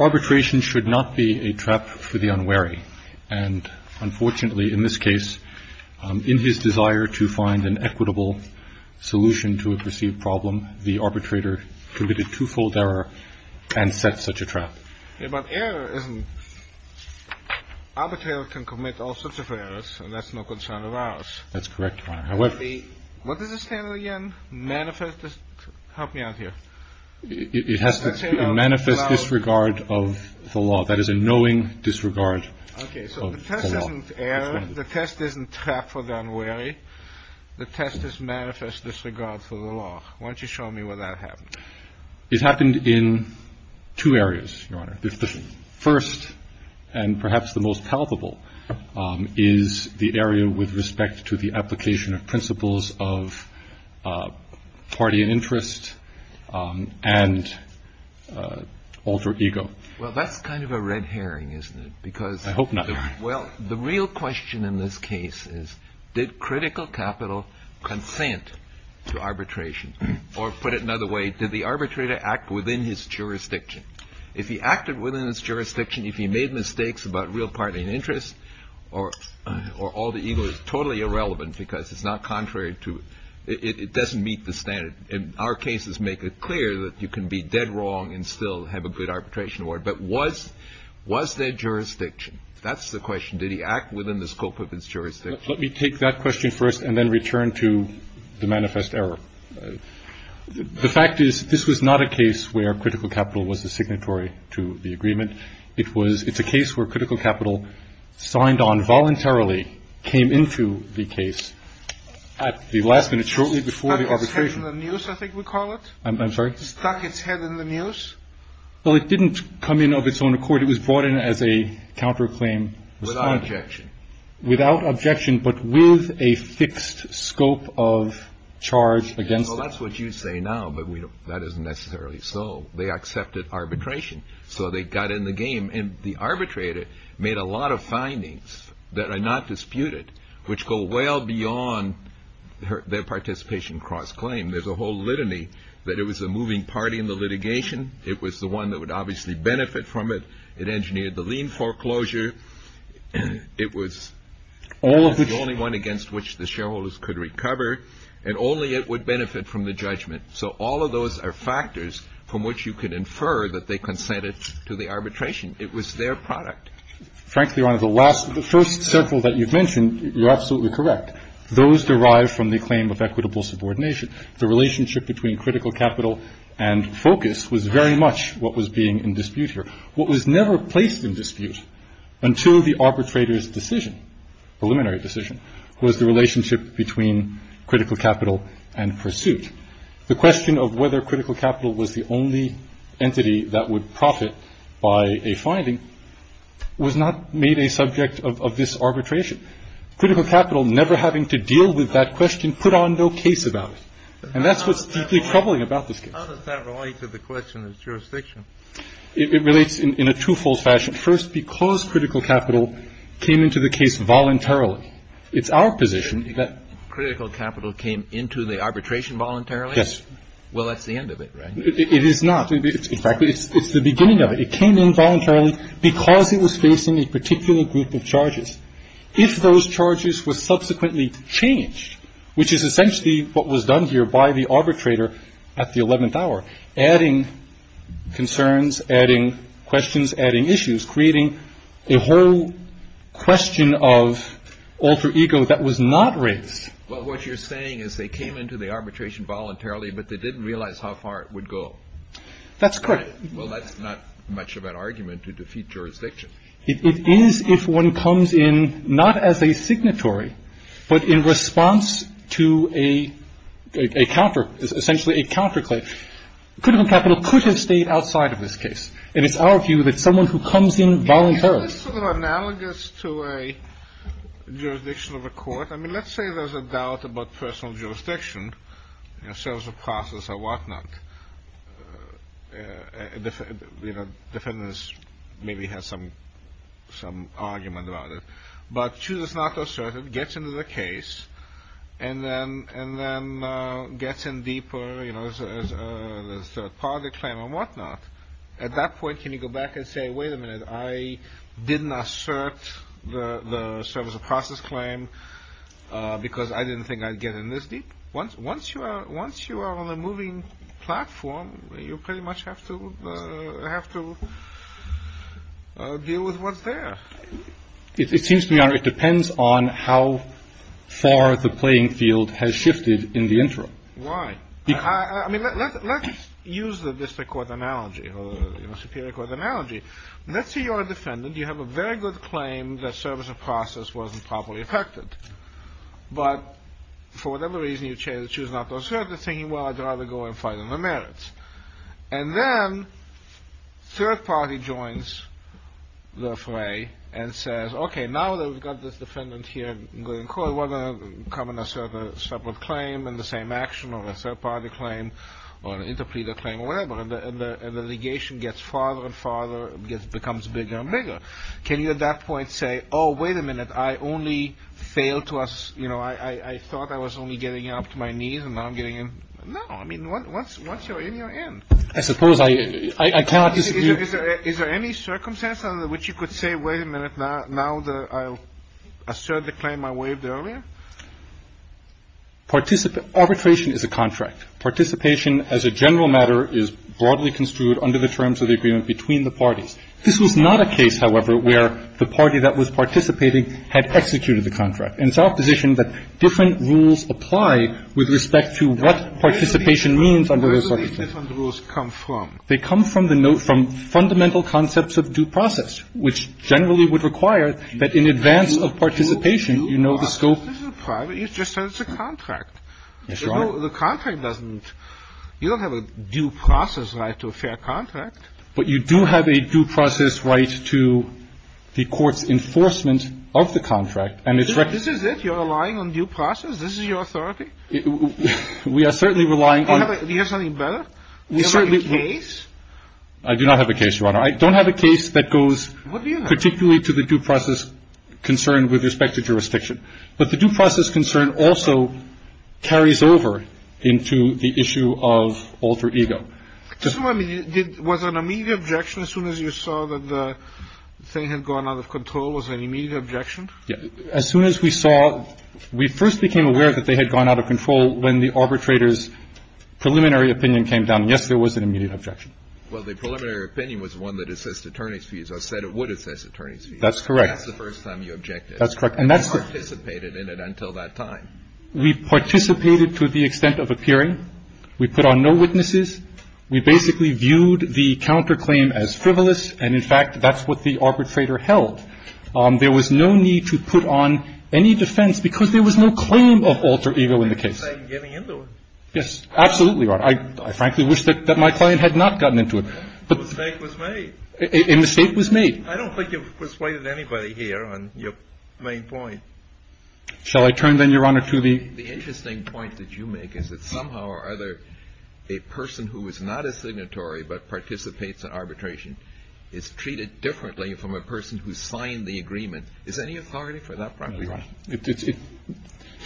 Arbitration should not be a trap for the unwary. Unfortunately, in this case, in his desire to find an equitable solution to a perceived problem, the arbitrator committed twofold error and set such a trap. It has to manifest disregard of the law. That is a knowing disregard of the law. The test is manifest disregard for the law. Why don't you show me where that happened? It happened in two areas, Your Honor. The first, and perhaps the most palpable, is the area with respect to the application of principles of party and interest and alter ego. Well, that's kind of a red herring, isn't it? I hope not, Your Honor. Well, the real question in this case is, did Critical Capital consent to arbitration? Or, put it another way, did the arbitrator act within his jurisdiction? If he acted within his jurisdiction, if he made mistakes about real party and interest, or alter ego, it's totally irrelevant because it's not contrary to, it doesn't meet the standard. And our cases make it clear that you can be dead wrong and still have a good arbitration award. But was there jurisdiction? That's the question. Did he act within the scope of his jurisdiction? Let me take that question first and then return to the manifest error. The fact is, this was not a case where Critical Capital was a signatory to the agreement. It's a case where Critical Capital signed on voluntarily, came into the case at the last minute, shortly before the arbitration. Stuck its head in the news, I think we call it. I'm sorry? Stuck its head in the news. Well, it didn't come in of its own accord. It was brought in as a counterclaim. Without objection. Without objection, but with a fixed scope of charge against it. Well, that's what you say now, but that isn't necessarily so. They accepted arbitration, so they got in the game. And the arbitrator made a lot of findings that are not disputed, which go well beyond their participation cross-claim. There's a whole litany that it was a moving party in the litigation. It was the one that would obviously benefit from it. It engineered the lien foreclosure. It was the only one against which the shareholders could recover. And only it would benefit from the judgment. So all of those are factors from which you could infer that they consented to the arbitration. It was their product. Frankly, the first several that you've mentioned, you're absolutely correct. Those derive from the claim of equitable subordination. The relationship between critical capital and focus was very much what was being in dispute here. What was never placed in dispute until the arbitrator's decision, preliminary decision, was the relationship between critical capital and pursuit. The question of whether critical capital was the only entity that would profit by a finding was not made a subject of this arbitration. Critical capital never having to deal with that question put on no case about it. And that's what's deeply troubling about this case. How does that relate to the question of jurisdiction? It relates in a twofold fashion. First, because critical capital came into the case voluntarily. So it's our position that critical capital came into the arbitration voluntarily. Yes. Well, that's the end of it. It is not. In fact, it's the beginning of it. It came in voluntarily because it was facing a particular group of charges. If those charges were subsequently changed, which is essentially what was done here by the arbitrator at the 11th hour, adding concerns, adding questions, adding issues, creating a whole question of alter ego that was not raised. But what you're saying is they came into the arbitration voluntarily, but they didn't realize how far it would go. That's correct. Well, that's not much of an argument to defeat jurisdiction. It is if one comes in not as a signatory, but in response to a counter, essentially a counterclaim. Critical capital could have stayed outside of this case. And it's our view that someone who comes in voluntarily. Isn't this sort of analogous to a jurisdiction of a court? I mean, let's say there's a doubt about personal jurisdiction, you know, sales of process or whatnot. You know, defendants maybe have some some argument about it. But she was not assertive, gets into the case and then and then gets in deeper, you know, as part of the claim or whatnot. At that point, can you go back and say, wait a minute, I didn't assert the service of process claim because I didn't think I'd get in this deep. Once once you are once you are on the moving platform, you pretty much have to have to deal with what's there. It seems to me it depends on how far the playing field has shifted in the interim. Why? I mean, let's use the district court analogy, you know, superior court analogy. Let's say you're a defendant. You have a very good claim that service of process wasn't properly affected. But for whatever reason, you choose not to assert the thing. Well, I'd rather go and fight on the merits. And then third party joins the fray and says, OK, now that we've got this defendant here going, we're going to come in a separate separate claim and the same action on a third party claim or an interpreter claim or whatever. And the litigation gets farther and farther, becomes bigger and bigger. Can you at that point say, oh, wait a minute, I only fail to us. You know, I thought I was only getting up to my knees and now I'm getting in. No, I mean, once once you're in, you're in. I suppose I can't. Is there any circumstance under which you could say, wait a minute, not now. I'll assert the claim I waived earlier. Participant arbitration is a contract. Participation as a general matter is broadly construed under the terms of the agreement between the parties. This was not a case, however, where the party that was participating had executed the contract. And it's our position that different rules apply with respect to what participation means under those circumstances. Where do these different rules come from? They come from the note from fundamental concepts of due process, which generally would require that in advance of participation, you know the scope. This is private. It's just a contract. Yes, Your Honor. The contract doesn't you don't have a due process right to a fair contract. But you do have a due process right to the court's enforcement of the contract. And it's right. This is it. You're relying on due process. This is your authority. We are certainly relying on. We have something better. We have a case. I do not have a case, Your Honor. I don't have a case that goes particularly to the due process concern with respect to jurisdiction. But the due process concern also carries over into the issue of alter ego. I mean, it was an immediate objection as soon as you saw that the thing had gone out of control was an immediate objection. As soon as we saw we first became aware that they had gone out of control when the arbitrators preliminary opinion came down. Yes, there was an immediate objection. Well, the preliminary opinion was one that assist attorney's fees. I said it would assist attorneys. That's correct. That's the first time you objected. That's correct. And that's what dissipated in it until that time. We participated to the extent of appearing. We put on no witnesses. We basically viewed the counterclaim as frivolous. And in fact, that's what the arbitrator held. There was no need to put on any defense because there was no claim of alter ego in the case. Yes, absolutely. I frankly wish that my client had not gotten into it. But a mistake was made. I don't think you've persuaded anybody here on your main point. Shall I turn then, Your Honor, to the. The interesting point that you make is that somehow or other, a person who is not a signatory but participates in arbitration is treated differently from a person who signed the agreement. Is there any authority for that? The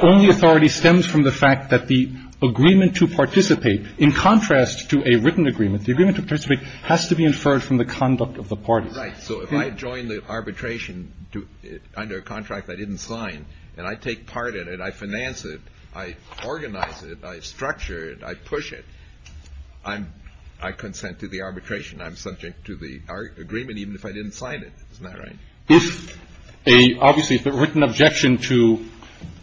only authority stems from the fact that the agreement to participate, in contrast to a written agreement, the agreement to participate has to be inferred from the conduct of the parties. Right. So if I join the arbitration under a contract I didn't sign and I take part in it, I finance it, I organize it, I structure it, I push it. I'm I consent to the arbitration. I'm subject to the agreement even if I didn't sign it. Isn't that right? If a obviously written objection to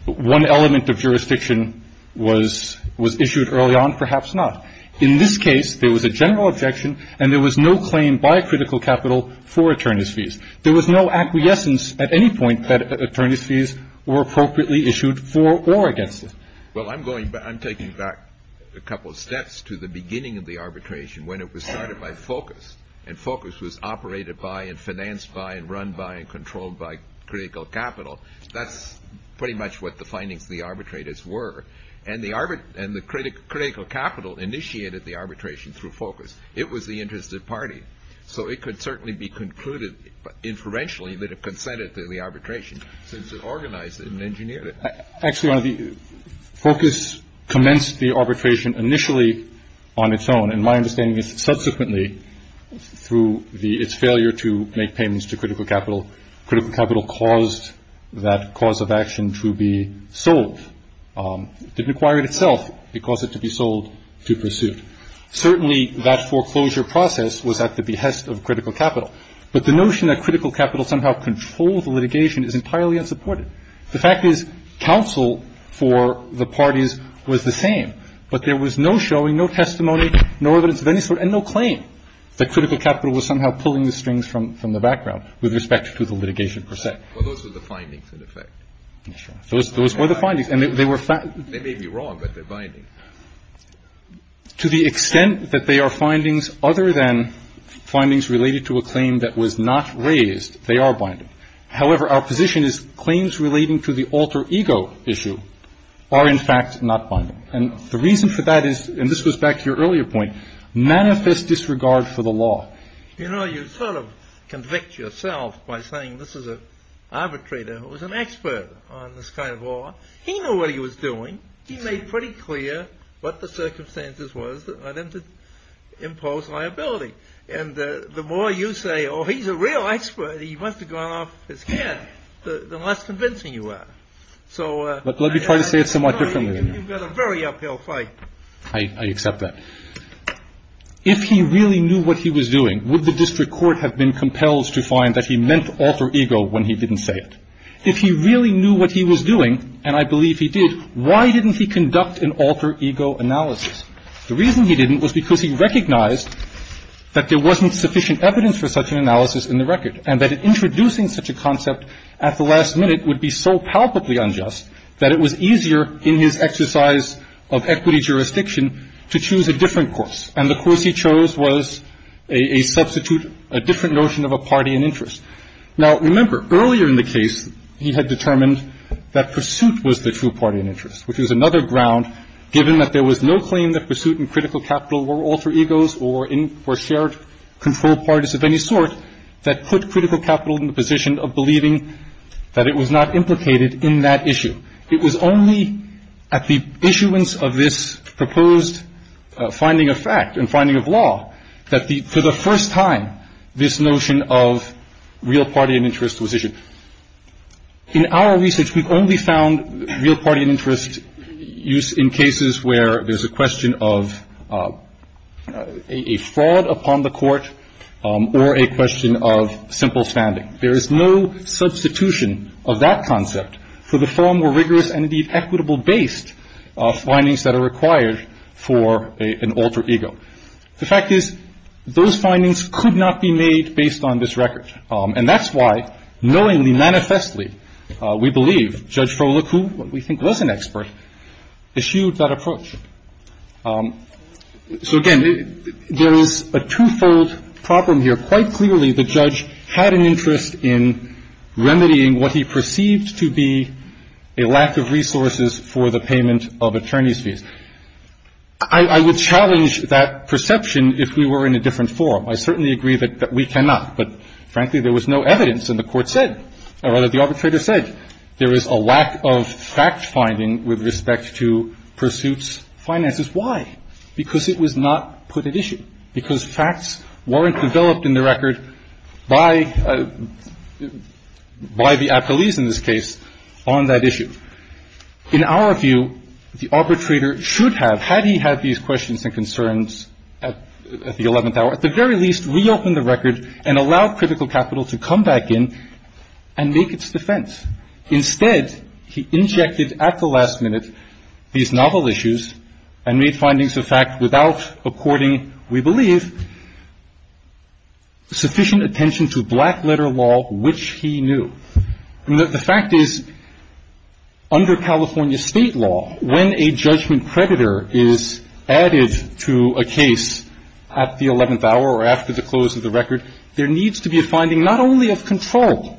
one element of jurisdiction was was issued early on, perhaps not. In this case, there was a general objection and there was no claim by critical capital for attorneys fees. There was no acquiescence at any point that attorneys fees were appropriately issued for or against it. Well, I'm going I'm taking back a couple of steps to the beginning of the arbitration when it was started by focus and focus was operated by and financed by and run by and controlled by critical capital. That's pretty much what the findings of the arbitrators were. And the arbitrator and the critical capital initiated the arbitration through focus. It was the interested party. So it could certainly be concluded inferentially that it consented to the arbitration since it organized it and engineered it. Actually, the focus commenced the arbitration initially on its own. And my understanding is subsequently through the its failure to make payments to critical capital, critical capital caused that cause of action to be sold. It acquired itself because it to be sold to pursuit. Certainly that foreclosure process was at the behest of critical capital. But the notion that critical capital somehow controlled the litigation is entirely unsupported. The fact is counsel for the parties was the same, but there was no showing, no testimony, no evidence of any sort and no claim that critical capital was somehow pulling the strings from the background with respect to the litigation per se. Well, those were the findings in effect. Those were the findings. They may be wrong, but they're bindings. To the extent that they are findings other than findings related to a claim that was not raised, they are bindings. However, our position is claims relating to the alter ego issue are in fact not bindings. And the reason for that is, and this goes back to your earlier point, manifest disregard for the law. You know, you sort of convict yourself by saying this is an arbitrator who was an expert on this kind of law. He knew what he was doing. He made pretty clear what the circumstances was for them to impose liability. And the more you say, oh, he's a real expert, he must have gone off his head, the less convincing you are. So you've got a very uphill fight. I accept that. If he really knew what he was doing, would the district court have been compelled to find that he meant alter ego when he didn't say it? If he really knew what he was doing, and I believe he did, why didn't he conduct an alter ego analysis? The reason he didn't was because he recognized that there wasn't sufficient evidence for such an analysis in the record and that introducing such a concept at the last minute would be so palpably unjust that it was easier in his exercise of equity jurisdiction to choose a different course. And the course he chose was a substitute, a different notion of a party and interest. Now, remember, earlier in the case, he had determined that pursuit was the true party and interest, which was another ground given that there was no claim that pursuit and critical capital were alter egos or shared control parties of any sort that put critical capital in the position of believing that it was not implicated in that issue. It was only at the issuance of this proposed finding of fact and finding of law that, for the first time, this notion of real party and interest was issued. In our research, we've only found real party and interest used in cases where there's a question of a fraud upon the court or a question of simple standing. There is no substitution of that concept for the far more rigorous and, indeed, equitable-based findings that are required for an alter ego. The fact is those findings could not be made based on this record, and that's why, knowingly, manifestly, we believe Judge Frohlich, who we think was an expert, issued that approach. So, again, there is a twofold problem here. Quite clearly, the judge had an interest in remedying what he perceived to be a lack of resources for the payment of attorney's fees. I would challenge that perception if we were in a different forum. I certainly agree that we cannot, but, frankly, there was no evidence, and the Court said, or rather, the arbitrator said there was a lack of fact-finding with respect to pursuits finances. Why? Because it was not put at issue, because facts weren't developed in the record by the appellees in this case on that issue. In our view, the arbitrator should have, had he had these questions and concerns at the 11th hour, at the very least, reopened the record and allowed critical capital to come back in and make its defense. Instead, he injected at the last minute these novel issues and made findings of fact without, according, we believe, sufficient attention to black-letter law, which he knew. The fact is, under California State law, when a judgment creditor is added to a case at the 11th hour or after the close of the record, there needs to be a finding not only of control,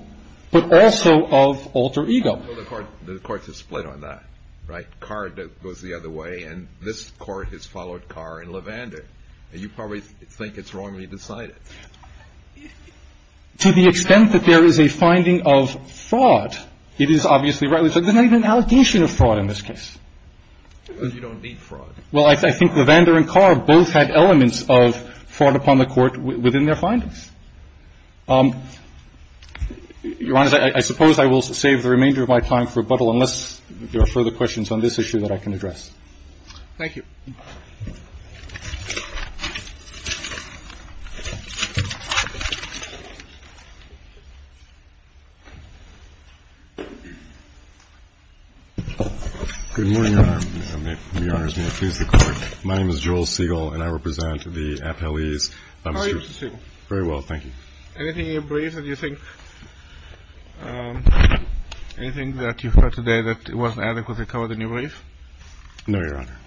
but also of alter ego. The Court has split on that, right? Carr goes the other way, and this Court has followed Carr and Levander. You probably think it's wrongly decided. To the extent that there is a finding of fraud, it is obviously right. There's not even an allegation of fraud in this case. Because you don't need fraud. Well, I think Levander and Carr both had elements of fraud upon the Court within their findings. Your Honor, I suppose I will save the remainder of my time for rebuttal unless there are further questions on this issue that I can address. Thank you. Good morning, Your Honor. My name is Joel Segal, and I represent the appellees. How are you, Mr. Segal? Very well, thank you. Anything in your brief that you think, anything that you've heard today that wasn't adequately covered in your brief? No, Your Honor.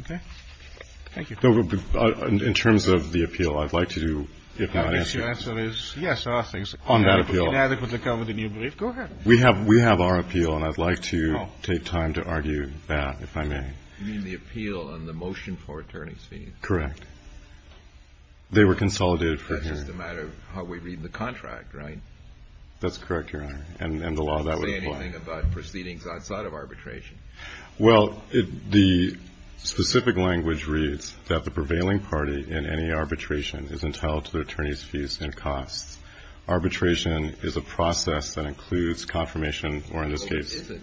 Okay. Thank you. In terms of the appeal, I'd like to do, if not answer. I guess your answer is, yes, there are things. On that appeal. Inadequately covered in your brief. Go ahead. We have our appeal, and I'd like to take time to argue that, if I may. You mean the appeal on the motion for attorney's fees? Correct. They were consolidated for hearing. It's just a matter of how we read the contract, right? That's correct, Your Honor. And the law that would apply. It doesn't say anything about proceedings outside of arbitration. Well, the specific language reads that the prevailing party in any arbitration is entitled to the attorney's fees and costs. Arbitration is a process that includes confirmation or, in this case. Is it?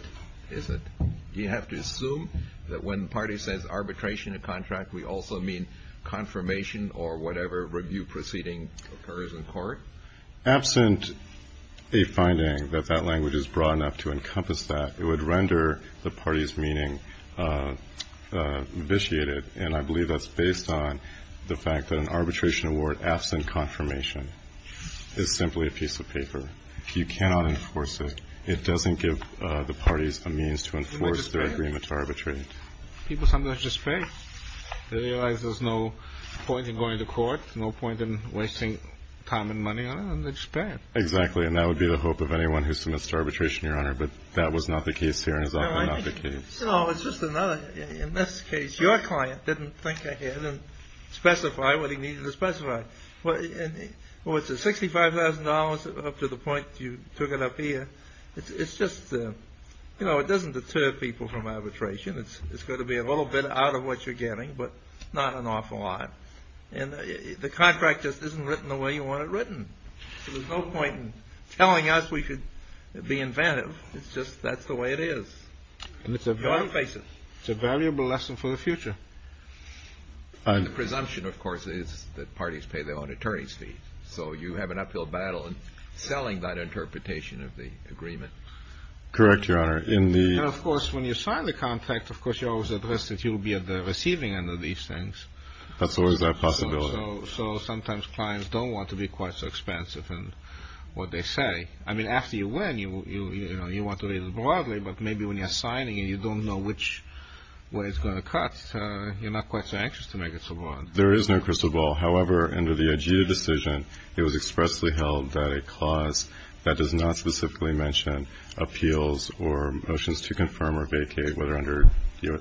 Is it? Do you have to assume that when the party says arbitration in a contract, we also mean confirmation or whatever review proceeding occurs in court? Absent a finding that that language is broad enough to encompass that, it would render the party's meaning vitiated, and I believe that's based on the fact that an arbitration award, absent confirmation, is simply a piece of paper. You cannot enforce it. It doesn't give the parties a means to enforce their agreement to arbitrate. People sometimes just pay. They realize there's no point in going to court, no point in wasting time and money on it, and they just pay it. Exactly. And that would be the hope of anyone who submits to arbitration, Your Honor, but that was not the case here and is often not the case. No, it's just another. In this case, your client didn't think ahead and specify what he needed to specify. Well, it's $65,000 up to the point you took it up here. It's just, you know, it doesn't deter people from arbitration. It's going to be a little bit out of what you're getting, but not an awful lot. And the contract just isn't written the way you want it written. So there's no point in telling us we should be inventive. It's just that's the way it is. You ought to face it. It's a valuable lesson for the future. The presumption, of course, is that parties pay their own attorneys' fees. So you have an uphill battle in selling that interpretation of the agreement. Correct, Your Honor. And, of course, when you sign the contract, of course, you're always at risk that you'll be at the receiving end of these things. That's always a possibility. So sometimes clients don't want to be quite so expansive in what they say. I mean, after you win, you want to read it broadly, but maybe when you're signing it, you don't know where it's going to cut. You're not quite so anxious to make it so broad. There is no crystal ball. However, under the AGEDA decision, it was expressly held that a clause that does not specifically mention appeals or motions to confirm or vacate, whether under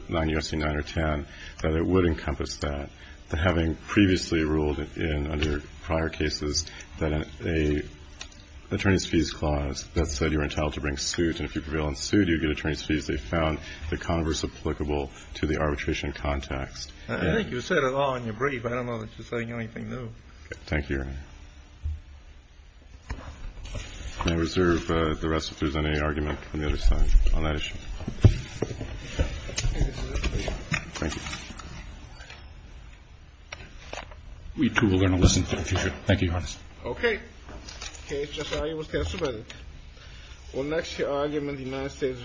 9 U.S.C. 9 or 10, that it would encompass that. But having previously ruled in under prior cases that a attorney's fees clause that said you're entitled to bring suit, and if you prevail in suit, you get attorney's fees, they found the converse applicable to the arbitration context. I think you said it all in your brief. I don't know that you're saying anything new. Thank you, Your Honor. May I reserve the rest if there's any argument from the other side on that issue? Thank you. We, too, are going to listen to it in the future. Thank you, Your Honor. Okay. The case just now was testified. We'll next hear argument in the United States v. Morales.